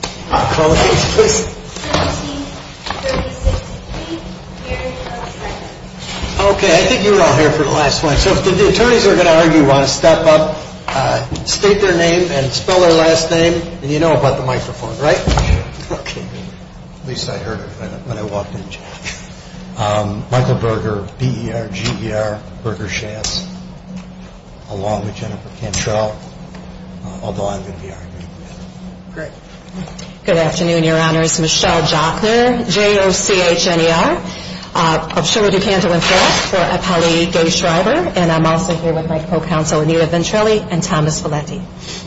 Okay, I think you were all here for the last one. So if the attorneys are going to argue, you want to step up, state their name, and spell their last name, and you know about the microphone, right? At least I heard it when I walked in. Michael Berger, B-E-R-G-E-R, Berger Shass, along with Jennifer Cantrell, although I'm going to be arguing. Great. Good afternoon, your honors. Michelle Jockner, J-O-C-H-N-E-R, of Shuler, DuCanto, and Forrest for Apali Gay-Schreiber, and I'm also here with my co-counsel Anita Ventrelli and Thomas Valenti.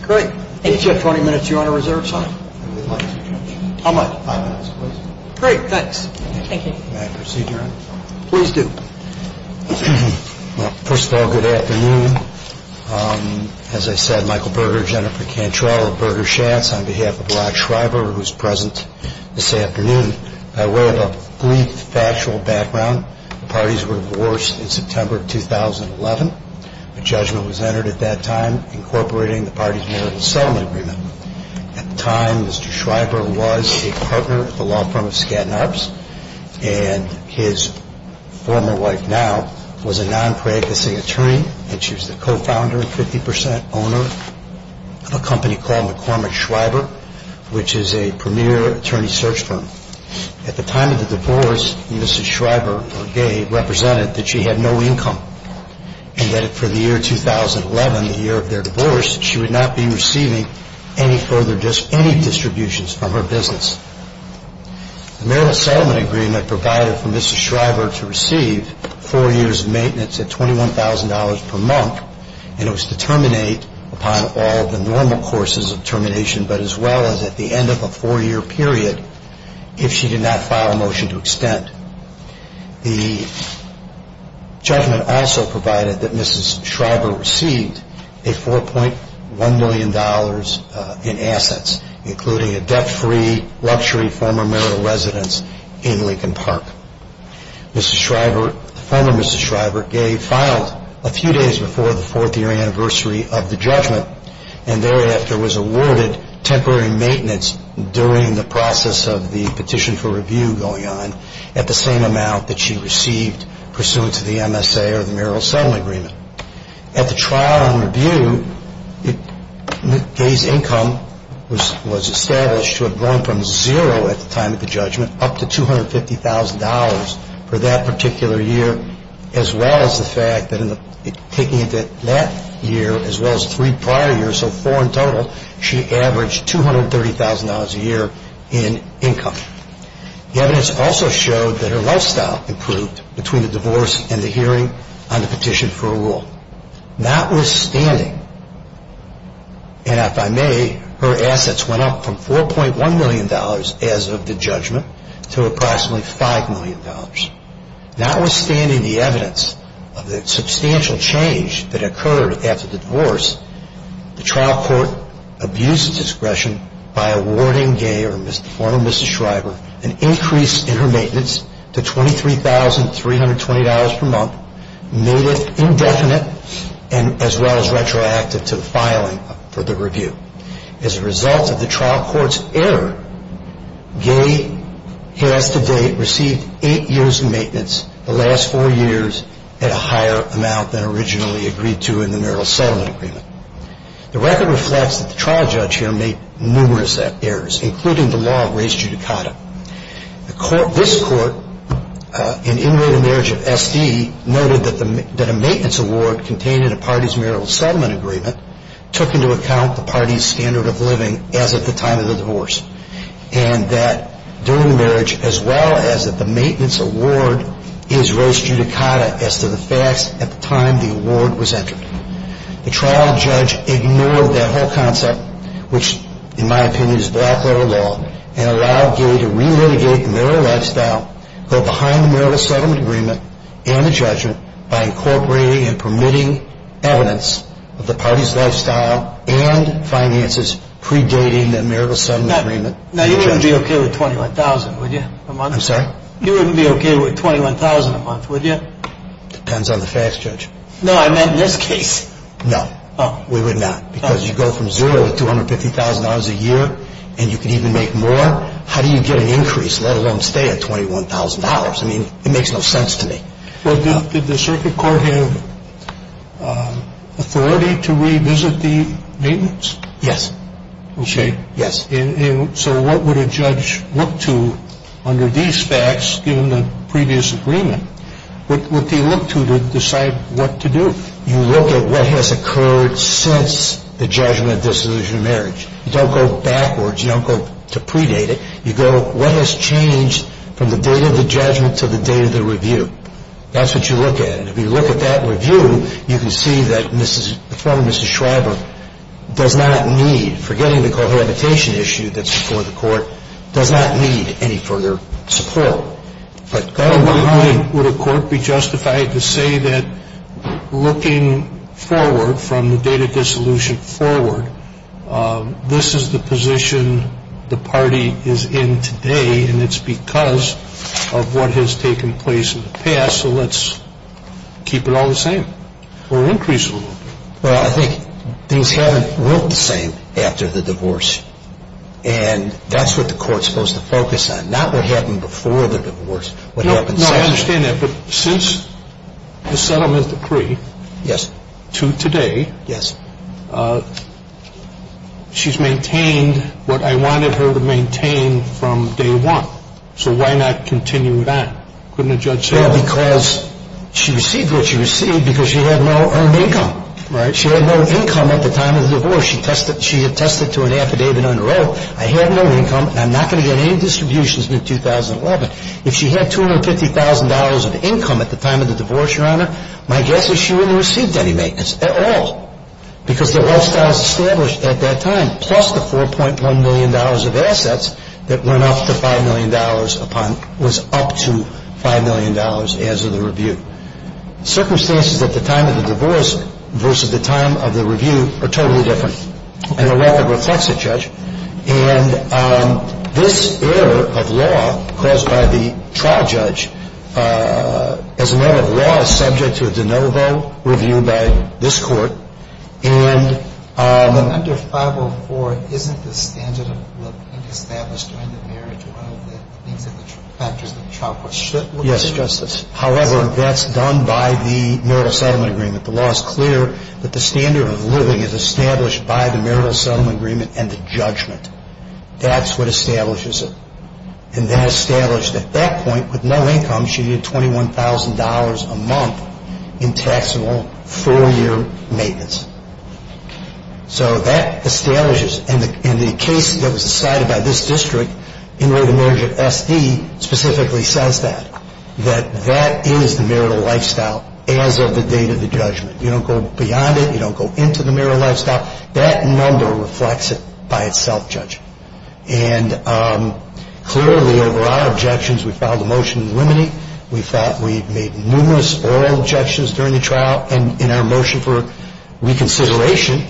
Great. Thank you. Do I have 20 minutes, your honor, reserved, sir? How about five minutes, please? Great, thanks. Thank you. May I proceed, your honor? Please do. Well, first of all, good afternoon. As I said, Michael Berger, Jennifer Cantrell, of Berger Shass, on behalf of Rock Schreiber, who is present this afternoon. By way of a brief factual background, the parties were divorced in September of 2011. A judgment was entered at that time incorporating the parties' marital settlement agreement. At the time, Mr. Schreiber was a partner at the law firm of Skadden Arps, and his former wife now was a non-pregnancy attorney, and she was the co-founder and 50% owner of a company called McCormick Schreiber, which is a premier attorney search firm. At the time of the divorce, Mrs. Schreiber, or Gay, represented that she had no income, and that for the year 2011, the year of their divorce, she would not be receiving any further – any distributions from her business. The marital settlement agreement provided for Mrs. Schreiber to receive four years of maintenance at $21,000 per month, and it was to terminate upon all the normal courses of termination, but as well as at the end of a four-year period, if she did not file a motion to extend. The judgment also provided that Mrs. Schreiber received a $4.1 million in assets, including a debt-free luxury former marital residence in Lincoln Park. Mrs. Schreiber – the former Mrs. Schreiber, Gay, filed a few days before the fourth-year anniversary of the judgment, and thereafter was awarded temporary maintenance during the process of the petition for review going on, at the same amount that she received pursuant to the MSA or the marital settlement agreement. At the trial and review, Gay's income was established to have grown from zero at the time of the judgment up to $250,000 for that particular year, as well as the fact that in that year, as well as three prior years, so four in total, she averaged $230,000 a year in income. The evidence also showed that her lifestyle improved between the divorce and the hearing on the petition for a rule. Notwithstanding, and if I may, her assets went up from $4.1 million as of the judgment to approximately $5 million. Notwithstanding the evidence of the substantial change that occurred after the divorce, the trial court abused its discretion by awarding Gay, or former Mrs. Schreiber, an increase in her maintenance to $23,320 per month, made it indefinite, as well as retroactive to filing for the review. As a result of the trial court's error, Gay has to date received eight years of maintenance the last four years at a higher amount than originally agreed to in the marital settlement agreement. The record reflects that the trial judge here made numerous errors, including the law of res judicata. This court, in Inmate and Marriage of S.D., noted that a maintenance award contained in a party's marital settlement agreement took into account the party's standard of living as at the time of the divorce, and that during marriage, as well as that the maintenance award is res judicata as to the facts at the time the award was entered. The trial judge ignored that whole concept, which in my opinion is black letter law, and allowed Gay to remitigate in their own lifestyle, go behind the marital settlement agreement and the judgment by incorporating and permitting evidence of the party's lifestyle and finances predating the marital settlement agreement. Now, you wouldn't be okay with $21,000, would you? I'm sorry? You wouldn't be okay with $21,000 a month, would you? Depends on the facts, Judge. No, I meant in this case. No, we would not, because you go from zero to $250,000 a year, and you can even make more. How do you get an increase, let alone stay at $21,000? I mean, it makes no sense to me. Well, did the circuit court have authority to revisit the maintenance? Yes. Okay. Yes. And so what would a judge look to under these facts, given the previous agreement? What do you look to to decide what to do? You look at what has occurred since the judgment of dissolution of marriage. You don't go backwards. You don't go to predate it. You go, what has changed from the date of the judgment to the date of the review? That's what you look at. And if you look at that review, you can see that the former Mrs. Schreiber does not need, forgetting the cohabitation issue that's before the court, does not need any further support. But going behind, would a court be justified to say that looking forward from the date of dissolution forward, this is the position the party is in today, and it's because of what has taken place in the past, so let's keep it all the same or increase it a little bit? Well, I think things haven't looked the same after the divorce. And that's what the court's supposed to focus on, not what happened before the divorce. No, I understand that. But since the settlement decree to today, she's maintained what I wanted her to maintain from day one. So why not continue that? Couldn't a judge say that? Well, because she received what she received because she had no earned income. She had no income at the time of the divorce. She attested to an affidavit on the road. I had no income, and I'm not going to get any distributions in 2011. If she had $250,000 of income at the time of the divorce, Your Honor, my guess is she wouldn't have received any maintenance at all because the wealth status established at that time plus the $4.1 million of assets that went up to $5 million upon was up to $5 million as of the review. Circumstances at the time of the divorce versus the time of the review are totally different. And the record reflects it, Judge. And this error of law caused by the trial judge, as a matter of law, is subject to a de novo review by this Court. But under 504, isn't the standard of living established during the marriage one of the things that the factors of the child court should look at? Yes, Justice. However, that's done by the marital settlement agreement. The law is clear that the standard of living is established by the marital settlement agreement and the judgment. That's what establishes it. And that established at that point with no income, she needed $21,000 a month in taxable four-year maintenance. So that establishes, and the case that was decided by this district in the marriage of SD specifically says that, that that is the marital lifestyle as of the date of the judgment. You don't go beyond it. You don't go into the marital lifestyle. That number reflects it by itself, Judge. And clearly, over our objections, we filed a motion to eliminate. We thought we'd made numerous oral objections during the trial. And in our motion for reconsideration,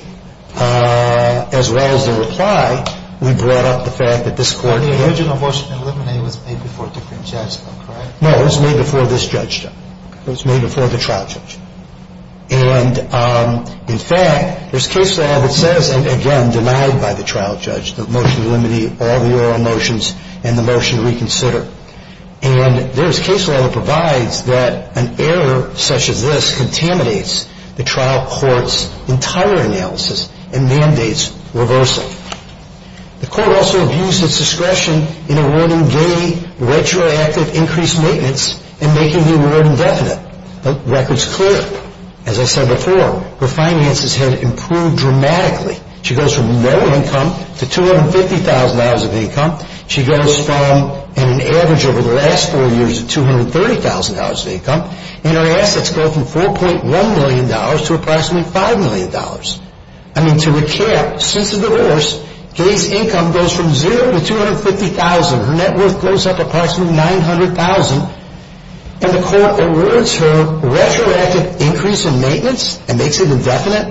as well as the reply, we brought up the fact that this Court The original motion to eliminate was made before a different judgment, correct? No, it was made before this judgment. It was made before the trial judgment. And in fact, there's case law that says, and again, denied by the trial judge, the motion to eliminate all the oral motions and the motion to reconsider. And there's case law that provides that an error such as this contaminates the trial court's entire analysis and mandates reversal. The Court also abused its discretion in awarding gay retroactive increased maintenance and making the award indefinite. The record's clear. As I said before, her finances have improved dramatically. She goes from no income to $250,000 of income. She goes from an average over the last four years of $230,000 of income. And her assets go from $4.1 million to approximately $5 million. I mean, to recap, since the divorce, Gay's income goes from $0 to $250,000. Her net worth goes up approximately $900,000. And the Court awards her retroactive increase in maintenance and makes it indefinite?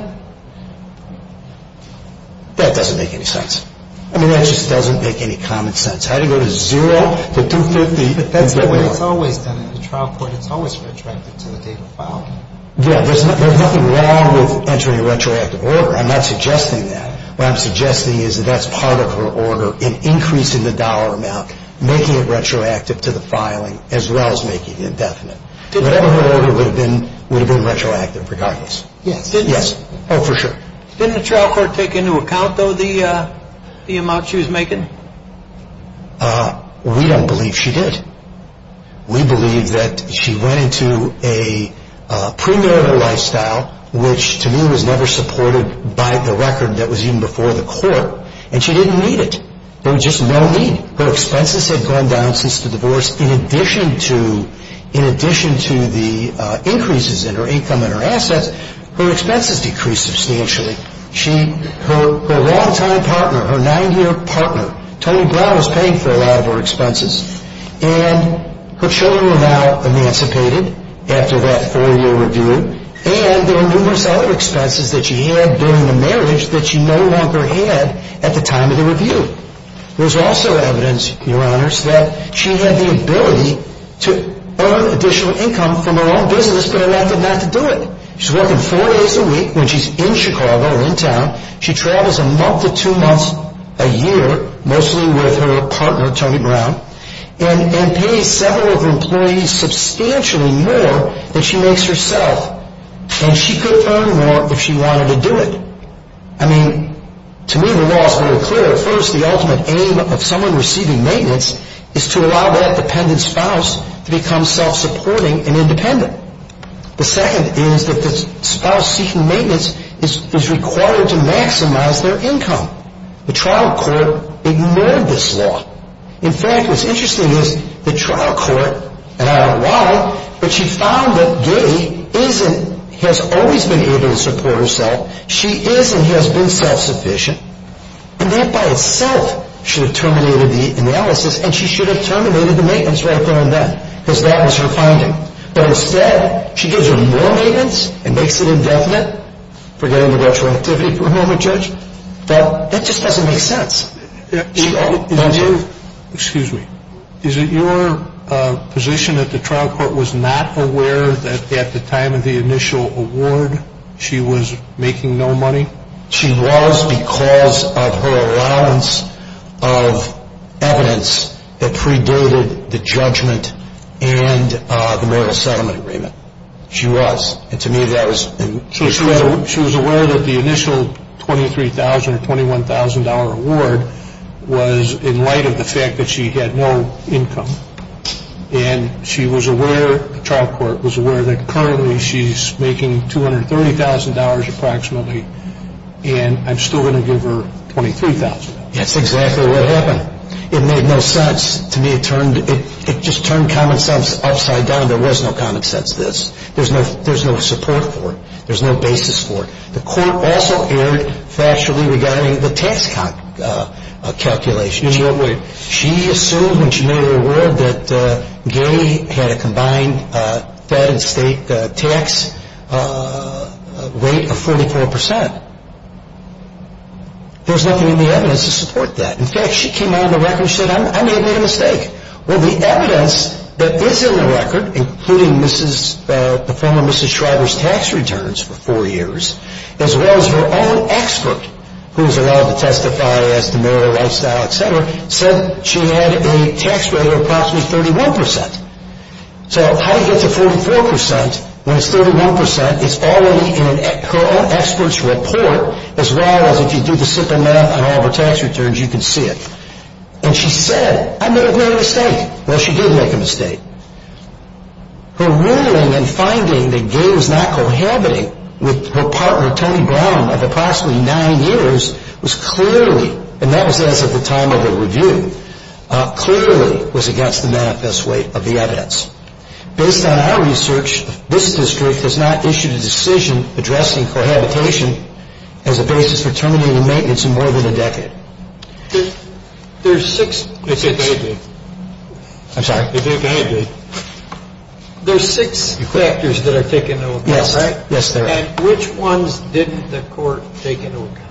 That doesn't make any sense. I mean, that just doesn't make any common sense. How do you go to $0 to $250,000? But that's the way it's always done at the trial court. It's always retroactive until the date of filing. Yeah, there's nothing wrong with entering a retroactive order. I'm not suggesting that. What I'm suggesting is that that's part of her order in increasing the dollar amount, making it retroactive to the filing, as well as making it indefinite. Whatever her order would have been, would have been retroactive regardless. Yes. Yes. Oh, for sure. Didn't the trial court take into account, though, the amount she was making? We don't believe she did. We believe that she went into a premarital lifestyle, which to me was never supported by the record that was even before the court, and she didn't need it. There was just no need. Her expenses had gone down since the divorce. In addition to the increases in her income and her assets, her expenses decreased substantially. Her longtime partner, her nine-year partner, Tony Brown, was paying for a lot of her expenses. And her children were now emancipated after that four-year review, and there were numerous other expenses that she had during the marriage that she no longer had at the time of the review. There's also evidence, Your Honors, that she had the ability to earn additional income from her own business but allowed them not to do it. She's working four days a week when she's in Chicago, in town. She travels a month to two months a year, mostly with her partner, Tony Brown, and pays several of her employees substantially more than she makes herself. And she could earn more if she wanted to do it. I mean, to me the law is very clear. First, the ultimate aim of someone receiving maintenance is to allow that dependent spouse to become self-supporting and independent. The second is that the spouse seeking maintenance is required to maximize their income. The trial court ignored this law. In fact, what's interesting is the trial court, and I don't know why, but she found that Gideon has always been able to support herself. She is and has been self-sufficient. And that by itself should have terminated the analysis and she should have terminated the maintenance right there and then because that was her finding. But instead, she gives her more maintenance and makes it indefinite, forgetting the retroactivity for a moment, Judge, but it just doesn't make sense. Excuse me. Is it your position that the trial court was not aware that at the time of the initial award, she was making no money? She was because of her allowance of evidence that predated the judgment and the marital settlement agreement. She was. She was aware that the initial $23,000 or $21,000 award was in light of the fact that she had no income. And she was aware, the trial court was aware, that currently she's making $230,000 approximately and I'm still going to give her $23,000. That's exactly what happened. It made no sense to me. It just turned common sense upside down. There was no common sense to this. There's no support for it. There's no basis for it. The court also erred factually regarding the tax calculation. In what way? She assumed when she made her award that Gary had a combined fed and state tax rate of 44%. There's nothing in the evidence to support that. In fact, she came out on the record and said, I may have made a mistake. Well, the evidence that is in the record, including the former Mrs. Shriver's tax returns for four years, as well as her own expert, who is allowed to testify as to marital lifestyle, et cetera, said she had a tax rate of approximately 31%. So how do you get to 44% when it's 31%? It's all in her own expert's report, as well as if you do the simple math on all of her tax returns, you can see it. And she said, I may have made a mistake. Well, she did make a mistake. Her ruling in finding that Gary was not cohabiting with her partner, Tony Brown, of approximately nine years was clearly, and that was as of the time of the review, clearly was against the manifest weight of the evidence. Based on our research, this district has not issued a decision addressing cohabitation as a basis for terminating maintenance in more than a decade. There's six factors that are taken into account, right? Yes, there are. And which ones didn't the court take into account?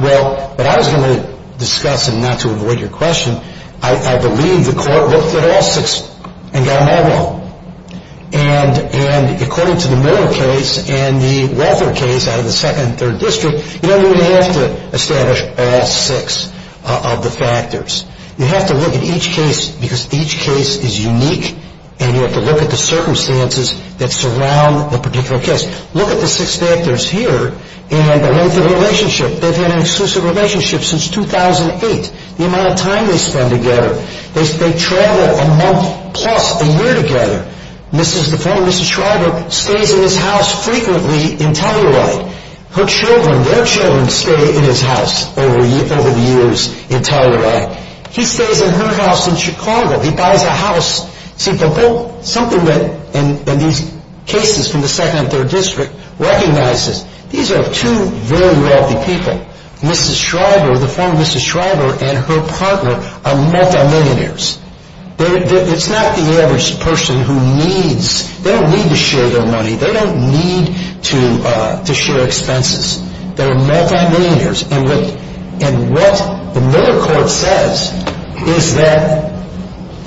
Well, what I was going to discuss, and not to avoid your question, I believe the court looked at all six and got them all wrong. And according to the Miller case and the Walther case out of the second and third districts, you don't really have to establish all six of the factors. You have to look at each case because each case is unique, and you have to look at the circumstances that surround the particular case. Look at the six factors here and the length of the relationship. They've had an exclusive relationship since 2008. The amount of time they spend together. They travel a month plus a year together. Mrs. Schreiber stays in his house frequently in Telluride. Her children, their children stay in his house over the years in Telluride. He stays in her house in Chicago. He buys a house. See, something that these cases from the second and third district recognizes, these are two very wealthy people. Mrs. Schreiber, the former Mrs. Schreiber and her partner are multimillionaires. It's not the average person who needs. They don't need to share their money. They don't need to share expenses. They're multimillionaires. And what the Miller court says is that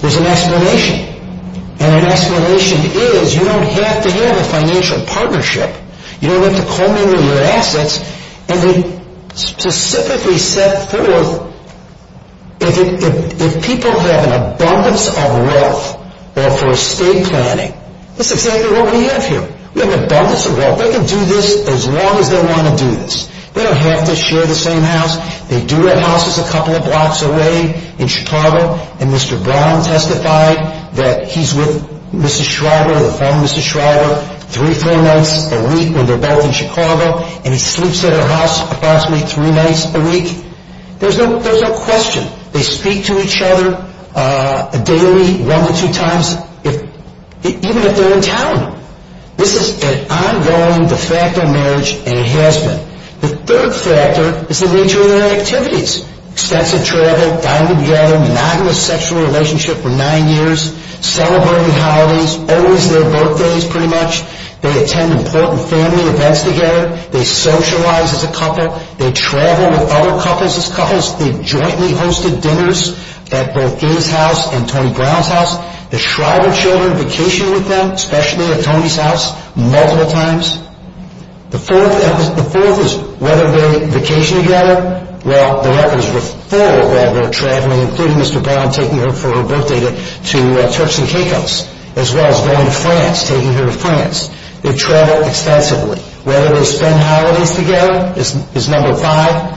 there's an explanation. And an explanation is you don't have to have a financial partnership. You don't have to co-miner your assets. And they specifically set forth if people have an abundance of wealth for estate planning, that's exactly what we have here. We have an abundance of wealth. They can do this as long as they want to do this. They don't have to share the same house. They do have houses a couple of blocks away in Chicago. And Mr. Brown testified that he's with Mrs. Schreiber, the former Mrs. Schreiber, three or four months a week when they're both in Chicago. And he sleeps at her house approximately three nights a week. There's no question. They speak to each other daily one to two times even if they're in town. This is an ongoing de facto marriage, and it has been. The third factor is the nature of their activities. Extensive travel, dining together, monogamous sexual relationship for nine years, celebrating holidays, always their birthdays pretty much. They attend important family events together. They socialize as a couple. They travel with other couples as couples. They've jointly hosted dinners at both his house and Tony Brown's house. The Schreiber children vacation with them, especially at Tony's house, multiple times. The fourth is whether they vacation together. Well, the records were full while they're traveling, including Mr. Brown taking her for her birthday to Turks and Caicos as well as going to France, taking her to France. They travel extensively. Whether they spend holidays together is number five,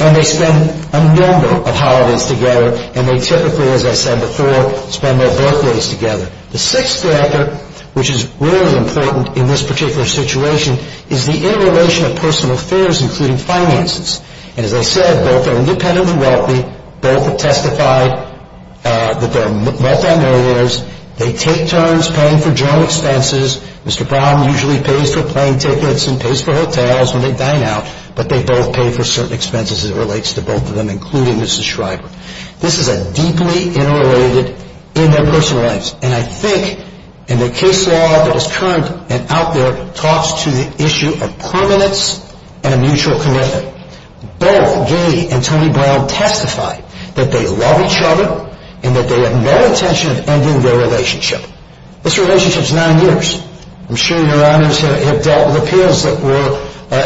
and they spend a number of holidays together, and they typically, as I said before, spend their birthdays together. The sixth factor, which is really important in this particular situation, is the interrelation of personal affairs including finances. And as I said, both are independent and wealthy. Both have testified that they're multimillionaires. They take turns paying for general expenses. Mr. Brown usually pays for plane tickets and pays for hotels when they dine out, but they both pay for certain expenses as it relates to both of them, including Mrs. Schreiber. This is a deeply interrelated in their personal lives, and I think in the case law that is current and out there, talks to the issue of permanence and a mutual commitment. Both Gay and Tony Brown testify that they love each other and that they have no intention of ending their relationship. This relationship is nine years. I'm sure your honors have dealt with appeals that were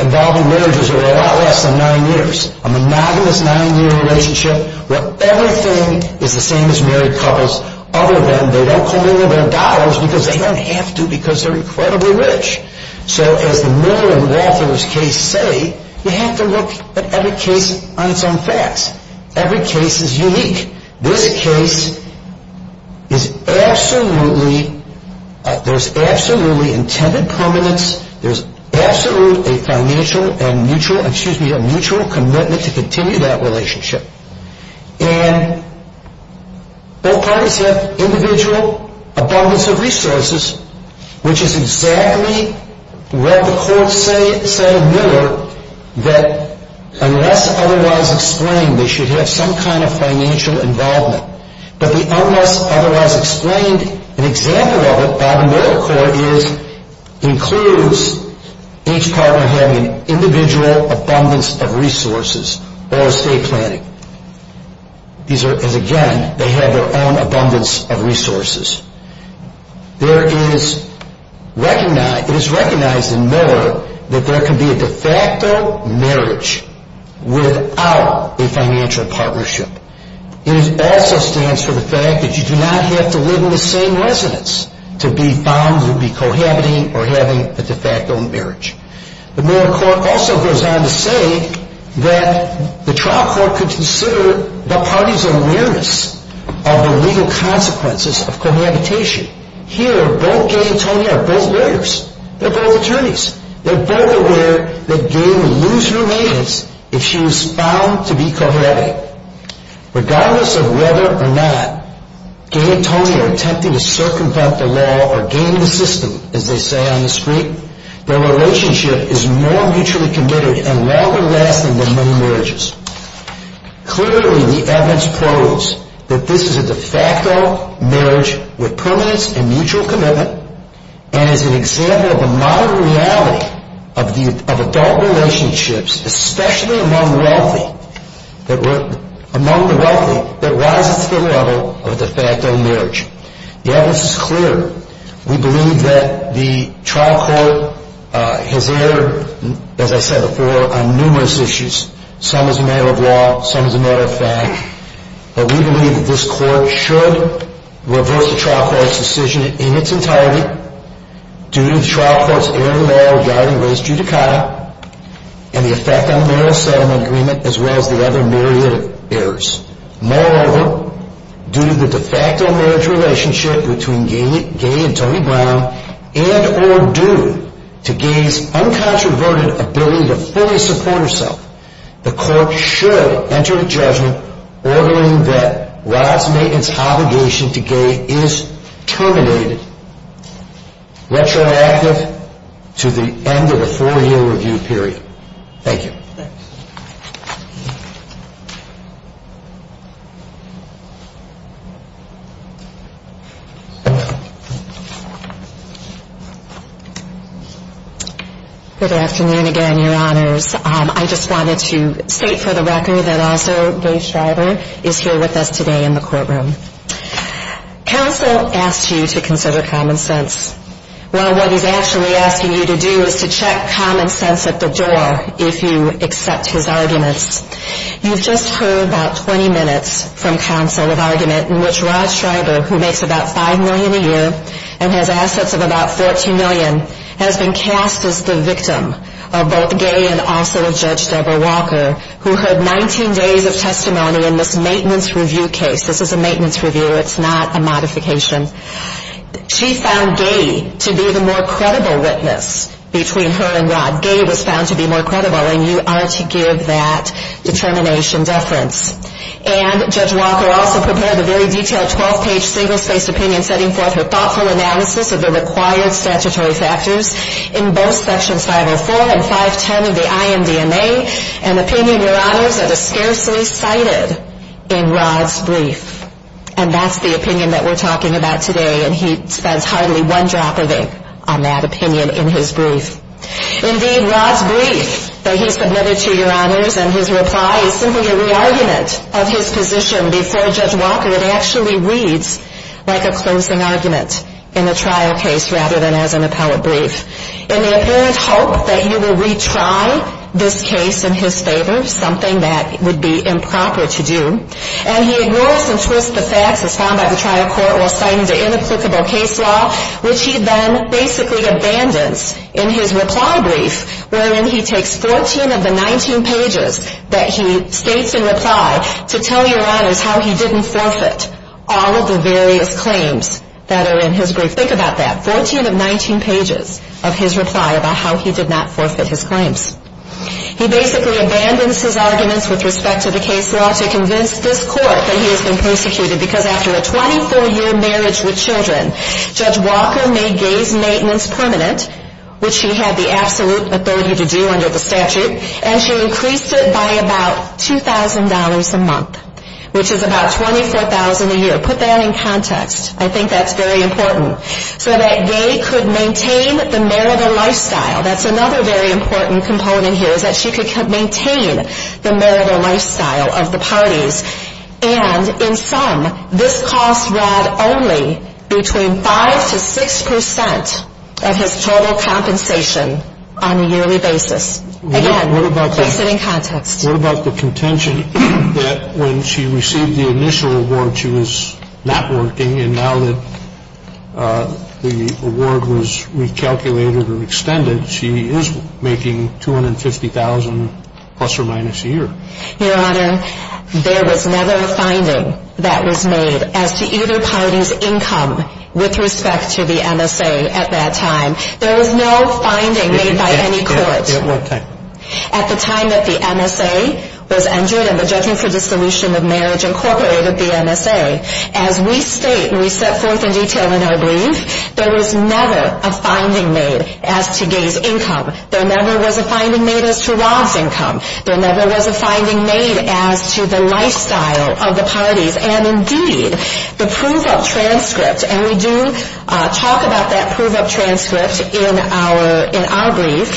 involving marriages that were a lot less than nine years. A monogamous nine-year relationship where everything is the same as married couples other than they don't call in their dollars because they don't have to because they're incredibly rich. So as the Miller and Walther's case say, you have to look at every case on its own facts. Every case is unique. This case is absolutely, there's absolutely intended permanence. There's absolutely a financial and mutual, excuse me, a mutual commitment to continue that relationship. And both parties have individual abundance of resources, that unless otherwise explained, they should have some kind of financial involvement. But the unless otherwise explained, an example of it by the Miller Court is, includes each partner having individual abundance of resources or estate planning. These are, as again, they have their own abundance of resources. There is, it is recognized in Miller that there can be a de facto marriage without a financial partnership. It also stands for the fact that you do not have to live in the same residence to be found to be cohabiting or having a de facto marriage. The Miller Court also goes on to say that the trial court could consider the party's awareness of the legal consequences of cohabitation. Here, both Gay and Tony are both lawyers. They're both attorneys. They're both aware that Gay would lose her maintenance if she was found to be cohabiting. Regardless of whether or not Gay and Tony are attempting to circumvent the law or gain the system, as they say on the street, their relationship is more mutually committed and longer lasting than many marriages. Clearly, the evidence proves that this is a de facto marriage with permanence and mutual commitment, and is an example of the modern reality of adult relationships, especially among the wealthy, that rises to the level of a de facto marriage. The evidence is clear. We believe that the trial court has erred, as I said before, on numerous issues. Some as a matter of law. Some as a matter of fact. But we believe that this court should reverse the trial court's decision in its entirety due to the trial court's error of the moral regarding race judicata and the effect on the Moral Settlement Agreement, as well as the other myriad of errors. Moreover, due to the de facto marriage relationship between Gay and Tony Brown and or due to Gay's uncontroverted ability to fully support herself, the court should enter a judgment ordering that Rod's maintenance obligation to Gay is terminated, retroactive to the end of the four-year review period. Thank you. Good afternoon again, Your Honors. I just wanted to state for the record that also Gay Schreiber is here with us today in the courtroom. Counsel asked you to consider common sense. Well, what he's actually asking you to do is to check common sense at the door if you accept his arguments. You've just heard about 20 minutes from counsel of argument in which Rod Schreiber, who makes about $5 million a year and has assets of about $14 million, has been cast as the victim of both Gay and also Judge Deborah Walker, who heard 19 days of testimony in this maintenance review case. This is a maintenance review. It's not a modification. She found Gay to be the more credible witness between her and Rod. Gay was found to be more credible, and you are to give that determination deference. And Judge Walker also prepared a very detailed 12-page single-spaced opinion setting forth her thoughtful analysis of the required statutory factors in both sections 504 and 510 of the IMDNA, an opinion, Your Honors, that is scarcely cited in Rod's brief. And that's the opinion that we're talking about today, and he spends hardly one drop of ink on that opinion in his brief. Indeed, Rod's brief that he submitted to Your Honors in his reply is simply a re-argument of his position before Judge Walker. It actually reads like a closing argument in a trial case rather than as an appellate brief in the apparent hope that he will retry this case in his favor, something that would be improper to do. And he ignores and twists the facts as found by the trial court while citing the inapplicable case law, which he then basically abandons in his reply brief wherein he takes 14 of the 19 pages that he states in reply to tell Your Honors how he didn't forfeit all of the various claims that are in his brief. Think about that, 14 of 19 pages of his reply about how he did not forfeit his claims. He basically abandons his arguments with respect to the case law to convince this court that he has been persecuted because after a 24-year marriage with children, Judge Walker made gays' maintenance permanent, which she had the absolute authority to do under the statute, and she increased it by about $2,000 a month, which is about $24,000 a year. Put that in context. I think that's very important. So that gay could maintain the marital lifestyle. That's another very important component here, is that she could maintain the marital lifestyle of the parties. And in sum, this cost Rad only between 5% to 6% of his total compensation on a yearly basis. Again, put that in context. What about the contention that when she received the initial award, she was not working, and now that the award was recalculated or extended, she is making $250,000 plus or minus a year? Your Honor, there was never a finding that was made as to either party's income with respect to the MSA at that time. There was no finding made by any court. At what time? At the time that the MSA was entered and the Judgment for Dissolution of Marriage incorporated the MSA. As we state and we set forth in detail in our brief, there was never a finding made as to gay's income. There never was a finding made as to Rad's income. There never was a finding made as to the lifestyle of the parties. And indeed, the proof-of-transcript, and we do talk about that proof-of-transcript in our brief,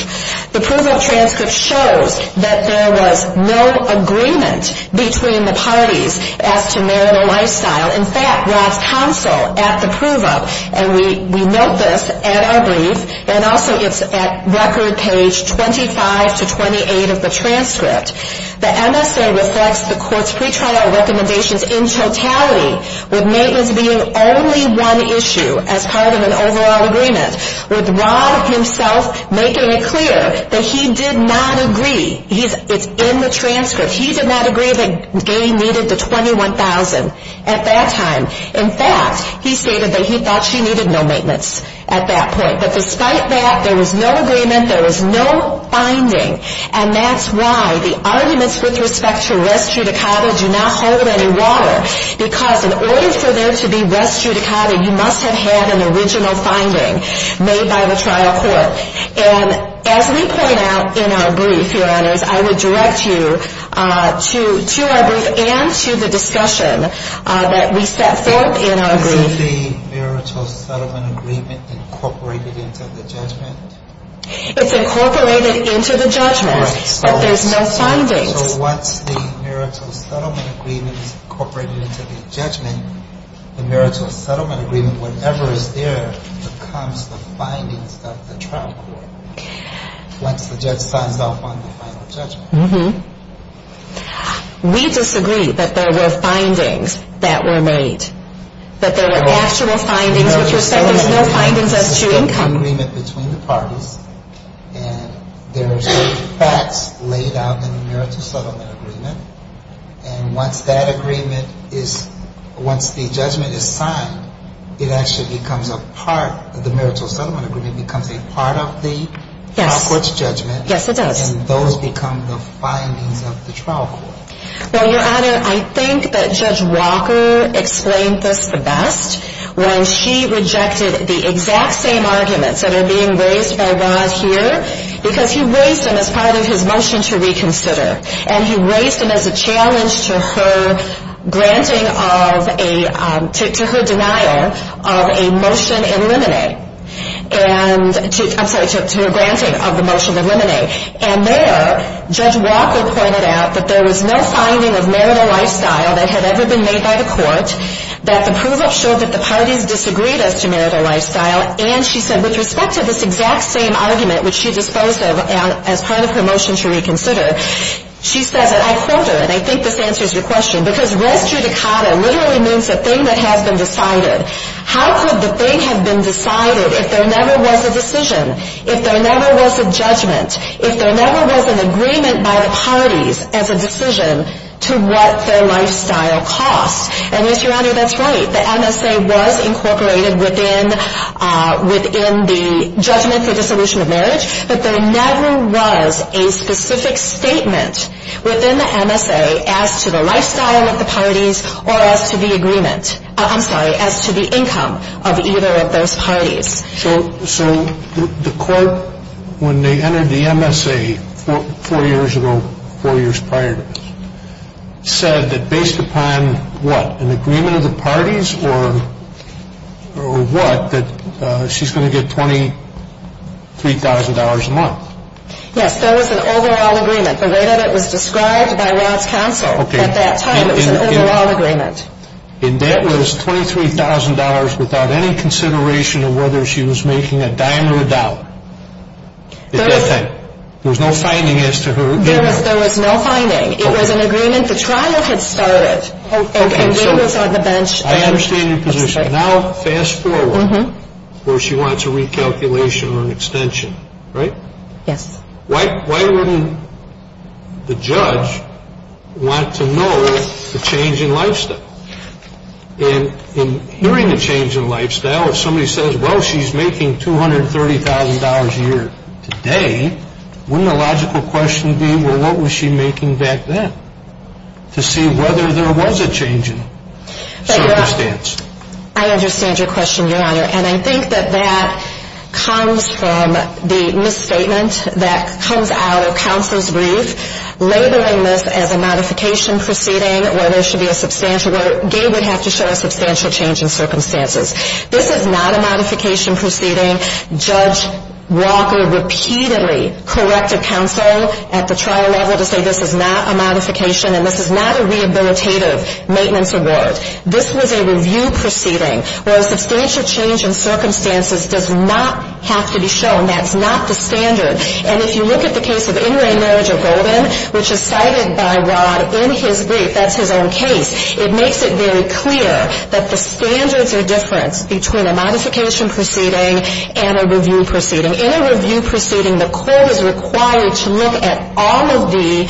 the proof-of-transcript shows that there was no agreement between the parties as to marital lifestyle. In fact, Rad's counsel at the proof-of, and we note this at our brief, and also it's at record page 25 to 28 of the transcript, the MSA reflects the court's pretrial recommendations in totality, with maintenance being only one issue as part of an overall agreement, with Rad himself making it clear that he did not agree, it's in the transcript, he did not agree that gay needed the $21,000 at that time. In fact, he stated that he thought she needed no maintenance at that point. But despite that, there was no agreement, there was no finding, and that's why the arguments with respect to res judicata do not hold any water, because in order for there to be res judicata, you must have had an original finding. Made by the trial court. And as we point out in our brief, your honors, I would direct you to our brief and to the discussion that we set forth in our brief. Is the marital settlement agreement incorporated into the judgment? It's incorporated into the judgment, but there's no findings. So once the marital settlement agreement is incorporated into the judgment, the marital settlement agreement, whatever is there, becomes the findings of the trial court. Once the judge signs off on the final judgment. We disagree that there were findings that were made. That there were actual findings with respect to no findings as to income. There's a settlement agreement between the parties, and there are certain facts laid out in the marital settlement agreement, and once that agreement is, once the judgment is signed, it actually becomes a part, the marital settlement agreement becomes a part of the trial court's judgment. Yes, it does. And those become the findings of the trial court. Well, your honor, I think that Judge Walker explained this the best when she rejected the exact same arguments that are being raised by Rod here, because he raised them as part of his motion to reconsider. And he raised them as a challenge to her granting of a, to her denial of a motion in limine. And, I'm sorry, to her granting of the motion in limine. And there, Judge Walker pointed out that there was no finding of marital lifestyle that had ever been made by the court, that the proof up showed that the parties disagreed as to marital lifestyle, and she said with respect to this exact same argument, which she disposed of as part of her motion to reconsider, she says, and I quote her, and I think this answers your question, because res judicata literally means a thing that has been decided. How could the thing have been decided if there never was a decision? If there never was a judgment? If there never was an agreement by the parties as a decision to what their lifestyle cost? And, yes, your honor, that's right. The MSA was incorporated within, within the judgment for dissolution of marriage, but there never was a specific statement within the MSA as to the lifestyle of the parties or as to the agreement, I'm sorry, as to the income of either of those parties. So, so the court, when they entered the MSA four years ago, four years prior to this, said that based upon what, an agreement of the parties or, or what, that she's going to get $23,000 a month. Yes, there was an overall agreement. The way that it was described by Rod's counsel at that time, it was an overall agreement. And that was $23,000 without any consideration of whether she was making a dime or a dollar at that time. There was no finding as to her income. There was no finding. It was an agreement the trial had started. And we was on the bench. I understand your position. Now, fast forward, where she wants a recalculation or an extension, right? Yes. Why, why wouldn't the judge want to know the change in lifestyle? And in hearing the change in lifestyle, if somebody says, well, she's making $230,000 a year today, wouldn't a logical question be, well, what was she making back then, to see whether there was a change in it? I understand your question, Your Honor. And I think that that comes from the misstatement that comes out of counsel's brief, labeling this as a modification proceeding where there should be a substantial, where Gabe would have to show a substantial change in circumstances. This is not a modification proceeding. Judge Walker repeatedly corrected counsel at the trial level to say this is not a modification and this is not a rehabilitative maintenance award. This was a review proceeding where a substantial change in circumstances does not have to be shown. That's not the standard. And if you look at the case of in-ring marriage of Golden, which is cited by Rod in his brief, that's his own case, it makes it very clear that the standards are different between a modification proceeding and a review proceeding. In a review proceeding, the court is required to look at all of the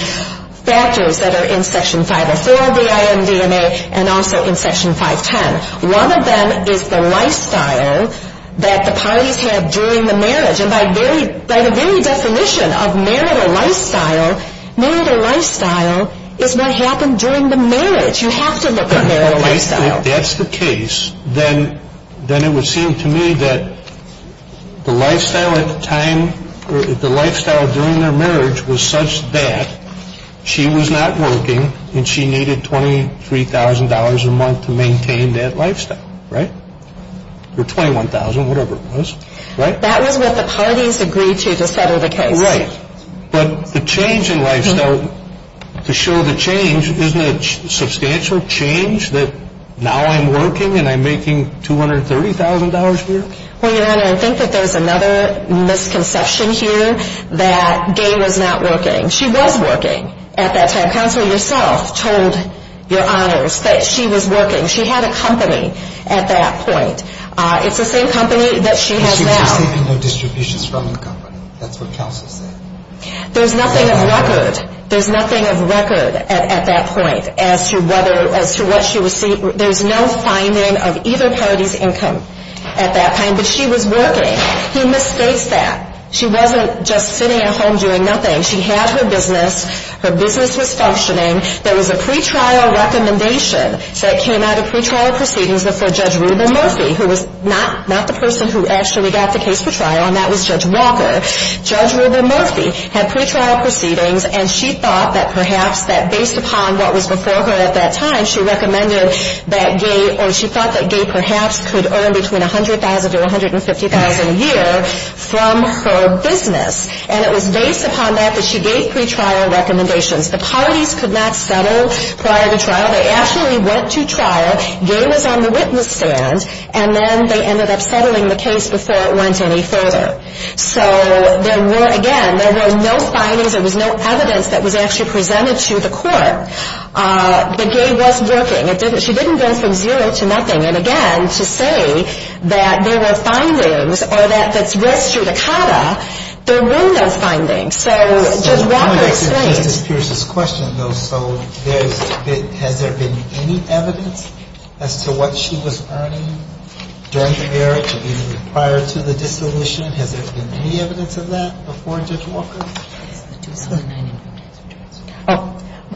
factors that are in Section 504 of the INDMA and also in Section 510. One of them is the lifestyle that the parties have during the marriage. And by the very definition of marital lifestyle, marital lifestyle is what happened during the marriage. You have to look at marital lifestyle. If that's the case, then it would seem to me that the lifestyle at the time, the lifestyle during their marriage was such that she was not working and she needed $23,000 a month to maintain that lifestyle. Right? Or $21,000, whatever it was. Right? That was what the parties agreed to to settle the case. Right. But the change in lifestyle, to show the change, isn't it substantial change that now I'm working and I'm making $230,000 a year? Well, Your Honor, I think that there's another misconception here that Gay was not working. She was working at that time. Counsel yourself told Your Honors that she was working. She had a company at that point. It's the same company that she has now. That's what counsel said. There's nothing of record. There's nothing of record at that point as to what she received. There's no finding of either party's income at that time. But she was working. He mistakes that. She wasn't just sitting at home doing nothing. She had her business. Her business was functioning. There was a pretrial recommendation that came out of pretrial proceedings before Judge Reuben Murphy, who was not the person who actually got the case for trial, and that was Judge Walker. Judge Reuben Murphy had pretrial proceedings, and she thought that perhaps that based upon what was before her at that time, she recommended that Gay or she thought that Gay perhaps could earn between $100,000 to $150,000 a year from her business. And it was based upon that that she gave pretrial recommendations. The parties could not settle prior to trial. They actually went to trial. Gay was on the witness stand, and then they ended up settling the case before it went any further. So there were, again, there were no findings. There was no evidence that was actually presented to the court. But Gay was working. She didn't go from zero to nothing. And, again, to say that there were findings or that that's res judicata, there were no findings. So Judge Walker explained. Justice Pierce's question, though, so has there been any evidence as to what she was earning during the period prior to the dissolution? Has there been any evidence of that before Judge Walker?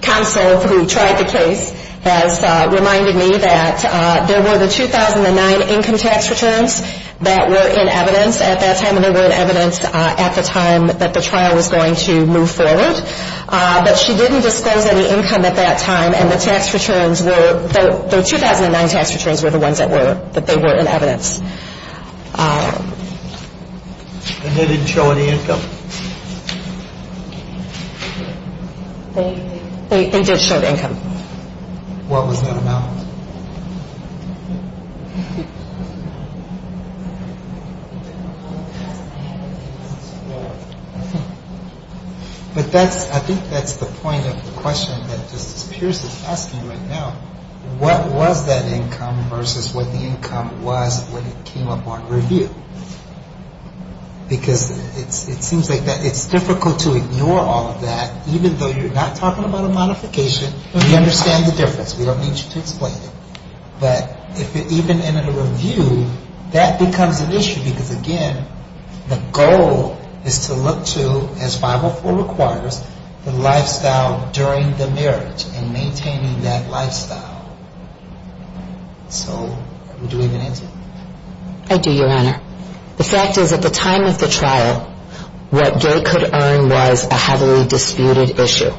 Counsel who tried the case has reminded me that there were the 2009 income tax returns that were in evidence at that time, and they were in evidence at the time that the trial was going to move forward. But she didn't disclose any income at that time. And the tax returns were, the 2009 tax returns were the ones that were, that they were in evidence. And they didn't show any income? They did show income. What was that amount? But that's, I think that's the point of the question that Justice Pierce is asking right now. What was that income versus what the income was when it came up on review? Because it seems like it's difficult to ignore all of that, even though you're not talking about a modification. We understand the difference. We don't need you to explain it. But if it even ended a review, that becomes an issue because, again, the goal is to look to, as 504 requires, the lifestyle during the marriage and maintaining that lifestyle. So do we have an answer? I do, Your Honor. The fact is at the time of the trial, what Gay could earn was a heavily disputed issue.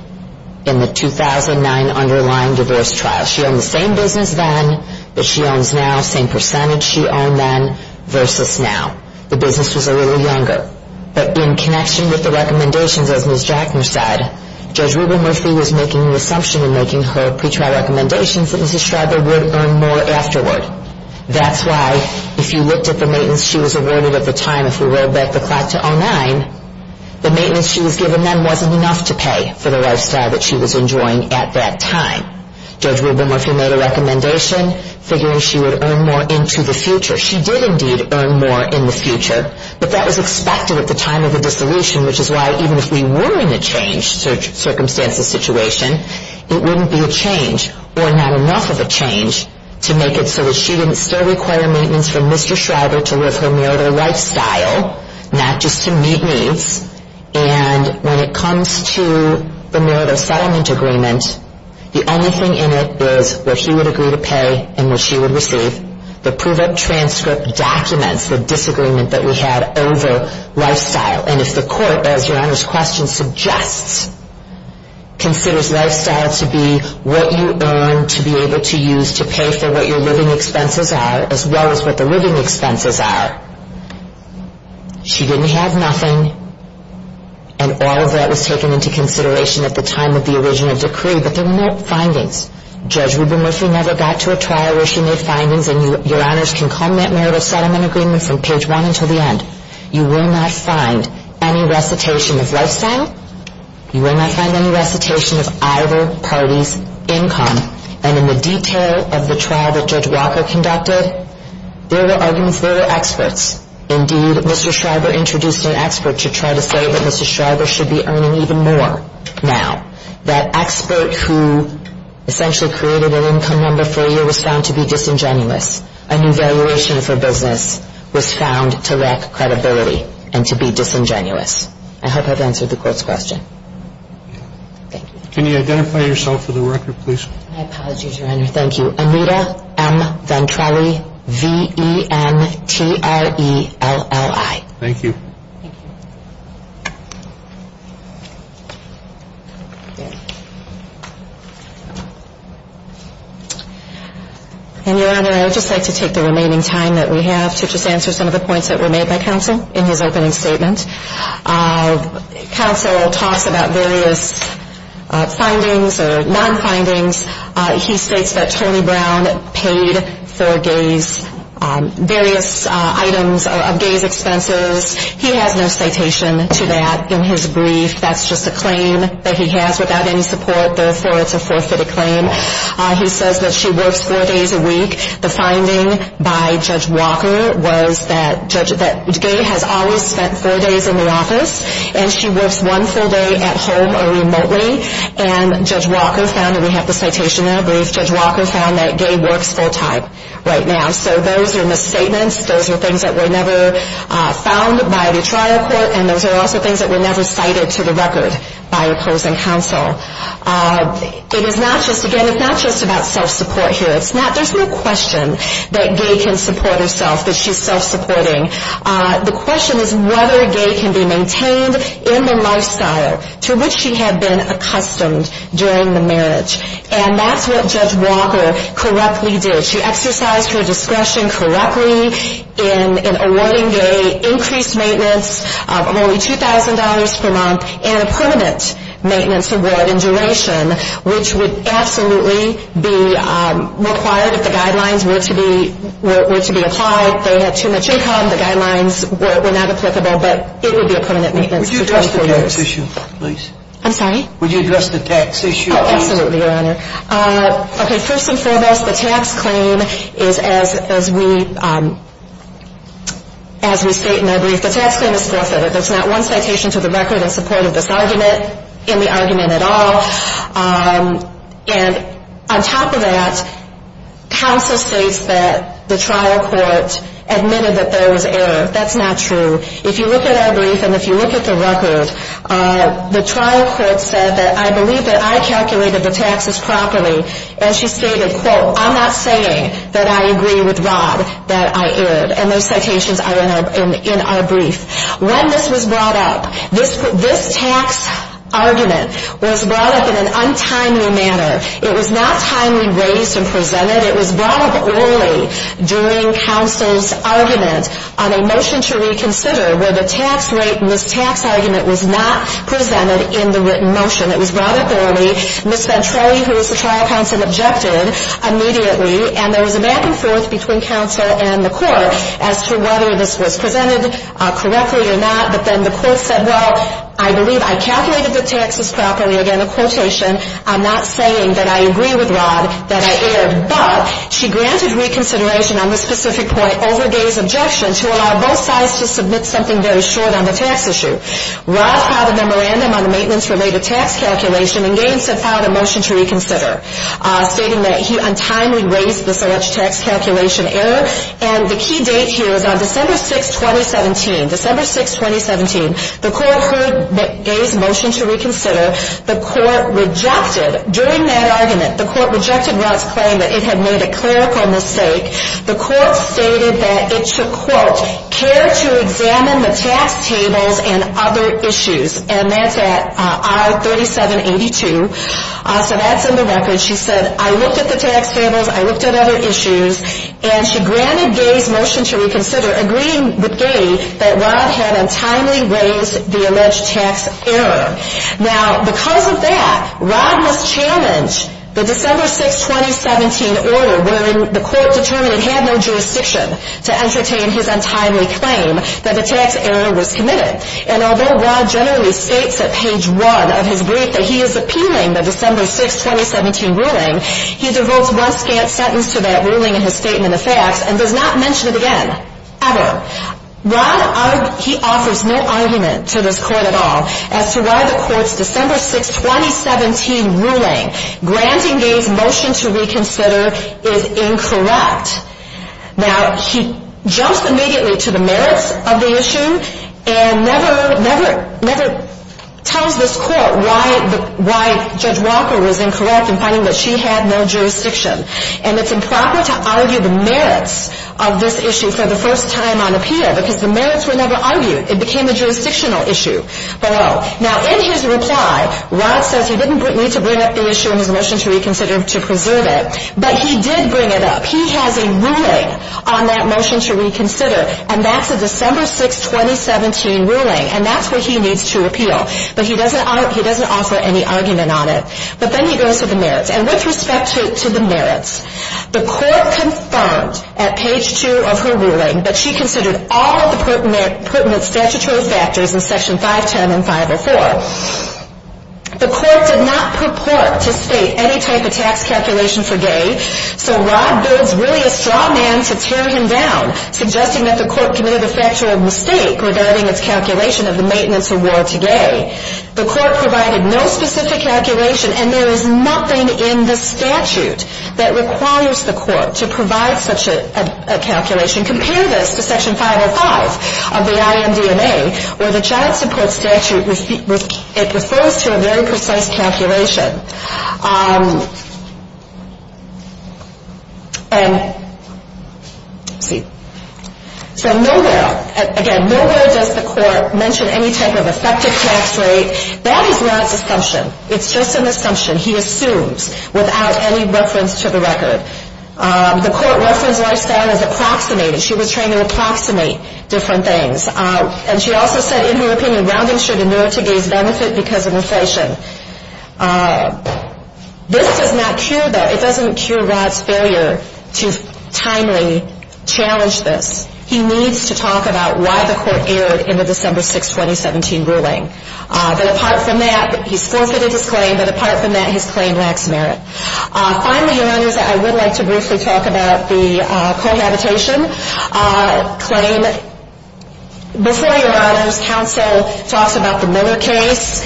In the 2009 underlying divorce trial. She owned the same business then, but she owns now. Same percentage she owned then versus now. The business was a little younger. But in connection with the recommendations, as Ms. Jackner said, Judge Rubin-Murphy was making the assumption in making her pretrial recommendations that Mrs. Schreiber would earn more afterward. That's why, if you looked at the maintenance she was awarded at the time, if we roll back the clock to 09, the maintenance she was given then wasn't enough to pay for the lifestyle that she was enjoying at that time. Judge Rubin-Murphy made a recommendation figuring she would earn more into the future. She did, indeed, earn more in the future. But that was expected at the time of the dissolution, which is why, even if we were in a change circumstances situation, it wouldn't be a change or not enough of a change to make it so that she didn't still require maintenance from Mr. Schreiber to live her marital lifestyle, not just to meet needs. And when it comes to the marital settlement agreement, the only thing in it is what he would agree to pay and what she would receive. The prove-it transcript documents the disagreement that we had over lifestyle. And if the court, as Your Honor's question suggests, considers lifestyle to be what you earn to be able to use to pay for what your living expenses are, as well as what the living expenses are, she didn't have nothing, and all of that was taken into consideration at the time of the original decree, but there were no findings. Judge Rubin-Murphy never got to a trial where she made findings, and Your Honors can comment on marital settlement agreements from page one until the end. You will not find any recitation of lifestyle. You will not find any recitation of either party's income. And in the detail of the trial that Judge Walker conducted, there were arguments there were experts. Indeed, Mr. Schreiber introduced an expert to try to say that Mr. Schreiber should be earning even more now. That expert who essentially created an income number failure was found to be disingenuous. An evaluation for business was found to lack credibility and to be disingenuous. I hope I've answered the court's question. Thank you. Can you identify yourself for the record, please? My apologies, Your Honor. Thank you. Anita M. Ventrelli, V-E-N-T-R-E-L-L-I. Thank you. Thank you. And, Your Honor, I would just like to take the remaining time that we have to just answer some of the points that were made by counsel in his opening statement. Counsel talks about various findings or non-findings. He states that Tony Brown paid for various items of gay's expenses. He has no citation to that in his brief. That's just a claim that he has without any support. Therefore, it's a forfeited claim. He says that she works four days a week. The finding by Judge Walker was that gay has always spent four days in the office and she works one full day at home or remotely. And Judge Walker found, and we have the citation in our brief, Judge Walker found that gay works full time right now. So those are misstatements. Those are things that were never found by the trial court, and those are also things that were never cited to the record by opposing counsel. It is not just, again, it's not just about self-support here. There's no question that gay can support herself, that she's self-supporting. The question is whether gay can be maintained in the lifestyle to which she had been accustomed during the marriage. And that's what Judge Walker correctly did. She exercised her discretion correctly in awarding gay increased maintenance of only $2,000 per month and a permanent maintenance award in duration, which would absolutely be required if the guidelines were to be applied. They had too much income. The guidelines were not applicable, but it would be a permanent maintenance for 24 years. Would you address the tax issue, please? I'm sorry? Would you address the tax issue, please? Oh, absolutely, Your Honor. Okay, first and foremost, the tax claim is, as we state in our brief, the tax claim is forfeited. There's not one citation to the record in support of this argument, in the argument at all. And on top of that, counsel states that the trial court admitted that there was error. That's not true. If you look at our brief and if you look at the record, the trial court said that, I believe that I calculated the taxes properly. And she stated, quote, I'm not saying that I agree with Rod that I erred. And those citations are in our brief. When this was brought up, this tax argument was brought up in an untimely manner. It was not timely raised and presented. It was brought up early during counsel's argument on a motion to reconsider where the tax rate in this tax argument was not presented in the written motion. It was brought up early. Ms. Ventrelli, who is the trial counsel, objected immediately. And there was a back and forth between counsel and the court as to whether this was presented correctly or not. But then the court said, well, I believe I calculated the taxes properly. Again, a quotation, I'm not saying that I agree with Rod that I erred. But she granted reconsideration on this specific point over Gay's objection to allow both sides to submit something very short on the tax issue. Rod filed a memorandum on the maintenance-related tax calculation, and Gay instead filed a motion to reconsider, stating that he untimely raised this alleged tax calculation error. And the key date here is on December 6, 2017. December 6, 2017, the court heard Gay's motion to reconsider. The court rejected, during that argument, the court rejected Rod's claim that it had made a clerical mistake. The court stated that it should, quote, care to examine the tax tables and other issues. And that's at R-3782. So that's in the record. She said, I looked at the tax tables, I looked at other issues. And she granted Gay's motion to reconsider, agreeing with Gay that Rod had untimely raised the alleged tax error. Now, because of that, Rod must challenge the December 6, 2017 order, wherein the court determined it had no jurisdiction to entertain his untimely claim that a tax error was committed. And although Rod generally states at page 1 of his brief that he is appealing the December 6, 2017 ruling, he devotes one scant sentence to that ruling in his statement of facts, and does not mention it again. Ever. Rod offers no argument to this court at all as to why the court's December 6, 2017 ruling granting Gay's motion to reconsider is incorrect. Now, he jumps immediately to the merits of the issue, and never tells this court why Judge Walker was incorrect in finding that she had no jurisdiction. And it's improper to argue the merits of this issue for the first time on appeal, because the merits were never argued. It became a jurisdictional issue. Now, in his reply, Rod says he didn't need to bring up the issue in his motion to reconsider to preserve it, but he did bring it up. He has a ruling on that motion to reconsider, and that's a December 6, 2017 ruling, and that's what he needs to appeal. But he doesn't offer any argument on it. But then he goes to the merits. And with respect to the merits, the court confirmed at page 2 of her ruling that she considered all of the pertinent statutory factors in Section 510 and 504. The court did not purport to state any type of tax calculation for Gay, so Rod builds really a straw man to tear him down, suggesting that the court committed a factual mistake regarding its calculation of the maintenance award to Gay. The court provided no specific calculation, and there is nothing in the statute that requires the court to provide such a calculation. Compare this to Section 505 of the IMDNA, where the child support statute, it refers to a very precise calculation. So nowhere, again, nowhere does the court mention any type of effective tax rate. That is Rod's assumption. It's just an assumption he assumes without any reference to the record. The court referenced lifestyle as approximated. She was trained to approximate different things. And she also said, in her opinion, rounding should inure to Gay's benefit because of inflation. This does not cure that. It doesn't cure Rod's failure to timely challenge this. He needs to talk about why the court erred in the December 6, 2017 ruling. But apart from that, he's forfeited his claim. But apart from that, his claim lacks merit. Finally, Your Honors, I would like to briefly talk about the cohabitation claim. Before Your Honors, counsel talks about the Miller case.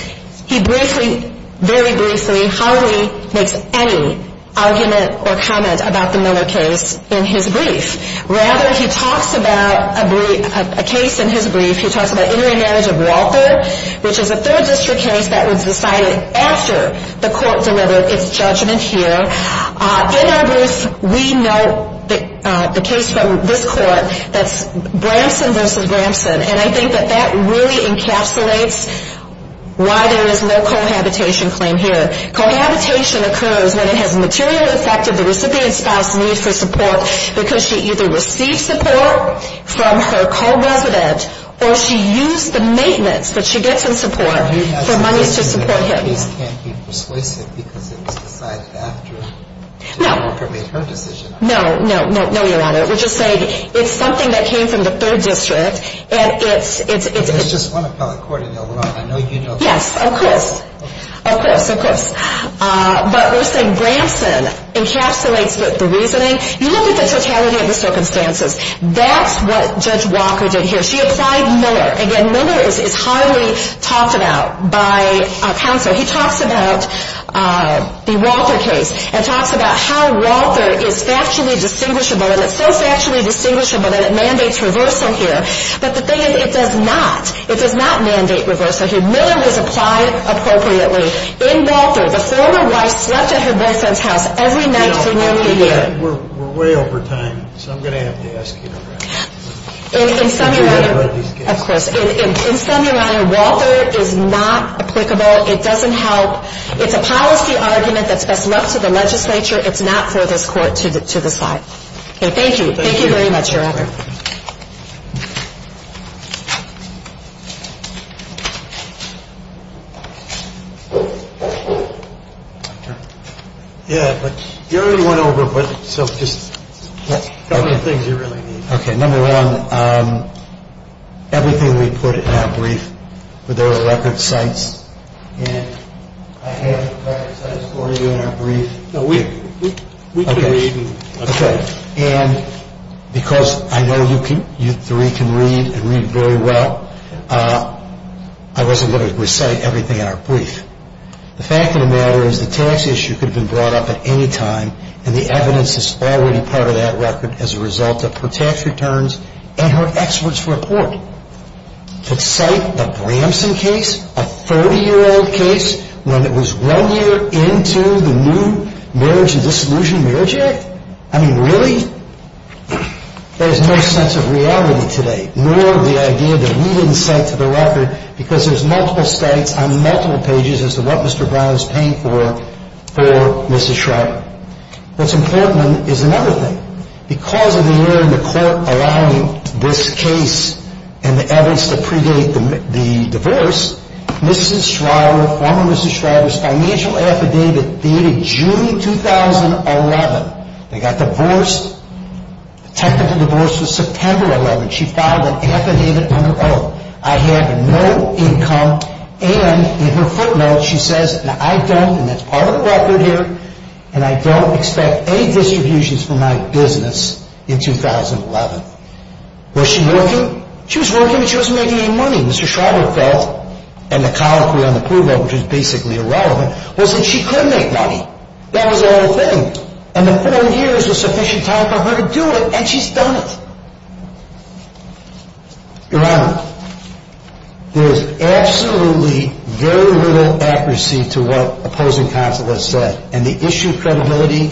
He briefly, very briefly, hardly makes any argument or comment about the Miller case in his brief. Rather, he talks about a brief, a case in his brief. He talks about intermarriage of Walther, which is a third district case that was decided after the court delivered its judgment here. In our brief, we note the case from this court that's Bramson v. Bramson. And I think that that really encapsulates why there is no cohabitation claim here. Cohabitation occurs when it has materially affected the recipient's spouse's need for support because she either receives support from her co-resident, or she used the maintenance that she gets in support for monies to support him. He can't be persuasive because it was decided after the worker made her decision. No, no, no, no, Your Honor. We're just saying it's something that came from the third district. There's just one appellate court, and they'll run. Yes, of course, of course, of course. But we're saying Bramson encapsulates the reasoning. You look at the totality of the circumstances. That's what Judge Walker did here. She applied Miller. Again, Miller is highly talked about by counsel. He talks about the Walther case and talks about how Walther is factually distinguishable, and it's so factually distinguishable that it mandates reversal here. But the thing is, it does not. It does not mandate reversal here. Miller was applied appropriately in Walther. The former wife slept at her boyfriend's house every night for nearly a year. We're way over time, so I'm going to have to ask you to wrap this up. Of course. In sum, Your Honor, Walther is not applicable. It doesn't help. It's a policy argument that's best left to the legislature. It's not for this Court to decide. Thank you. Thank you very much, Your Honor. I know you three can read and read very well. I wasn't going to recite everything in our brief. The fact of the matter is the tax issue could have been brought up at any time, and the evidence is already part of that record as a result of her tax returns and her expert's report. To cite the Bramson case, a 30-year-old case, when it was one year into the new Marriage and Disillusionment Marriage Act? I mean, really? There's no sense of reality today, nor the idea that we didn't cite to the record because there's multiple states on multiple pages as to what Mr. Brown is paying for for Mrs. Schreiber. What's important is another thing. Because of the year in the Court allowing this case and the evidence to predate the divorce, Mrs. Schreiber, former Mrs. Schreiber's financial affidavit dated June 2011 They got divorced. The technical divorce was September 11. She filed an affidavit on her own. I have no income. And in her footnote, she says, I don't, and that's part of the record here, and I don't expect any distributions for my business in 2011. Was she working? She was working, but she wasn't making any money. Mr. Schreiber felt, and the colloquy on the proof of which is basically irrelevant, was that she could make money. That was the whole thing. And the four years was sufficient time for her to do it, and she's done it. Your Honor, there is absolutely very little accuracy to what opposing counsel has said. And the issue of credibility,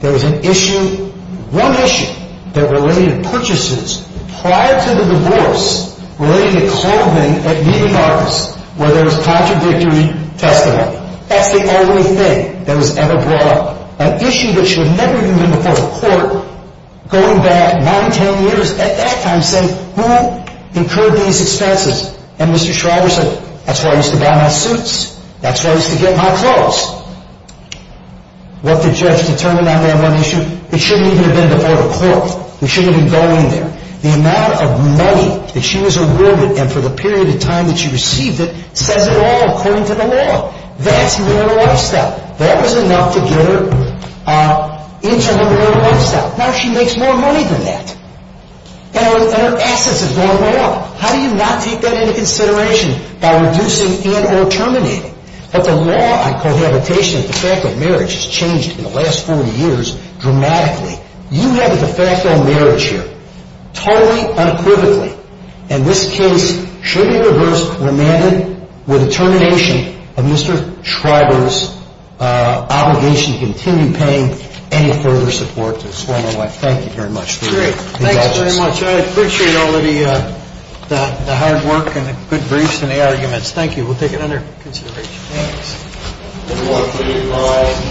there was an issue, one issue, that related purchases prior to the divorce related to clothing at media markets where there was contradictory testimony. That's the only thing that was ever brought up. An issue that should have never even been before the court, going back nine, ten years at that time, saying, who incurred these expenses? And Mr. Schreiber said, that's why I used to buy my suits. That's why I used to get my clothes. What the judge determined on that one issue, it shouldn't even have been before the court. It shouldn't even go in there. The amount of money that she was awarded, and for the period of time that she received it, says it all according to the law. That's her lifestyle. That was enough to get her into her moral lifestyle. Now she makes more money than that. And her assets have gone way up. How do you not take that into consideration by reducing and or terminating? But the law on cohabitation, the fact that marriage has changed in the last 40 years, dramatically. You have a de facto marriage here, totally unequivocally. And this case should be reversed, remanded with the termination of Mr. Schreiber's obligation to continue paying any further support to his former wife. Thank you very much. Great. Thanks very much. I appreciate all the hard work and the good briefs and the arguments. Thank you. We'll take it under consideration. Thanks.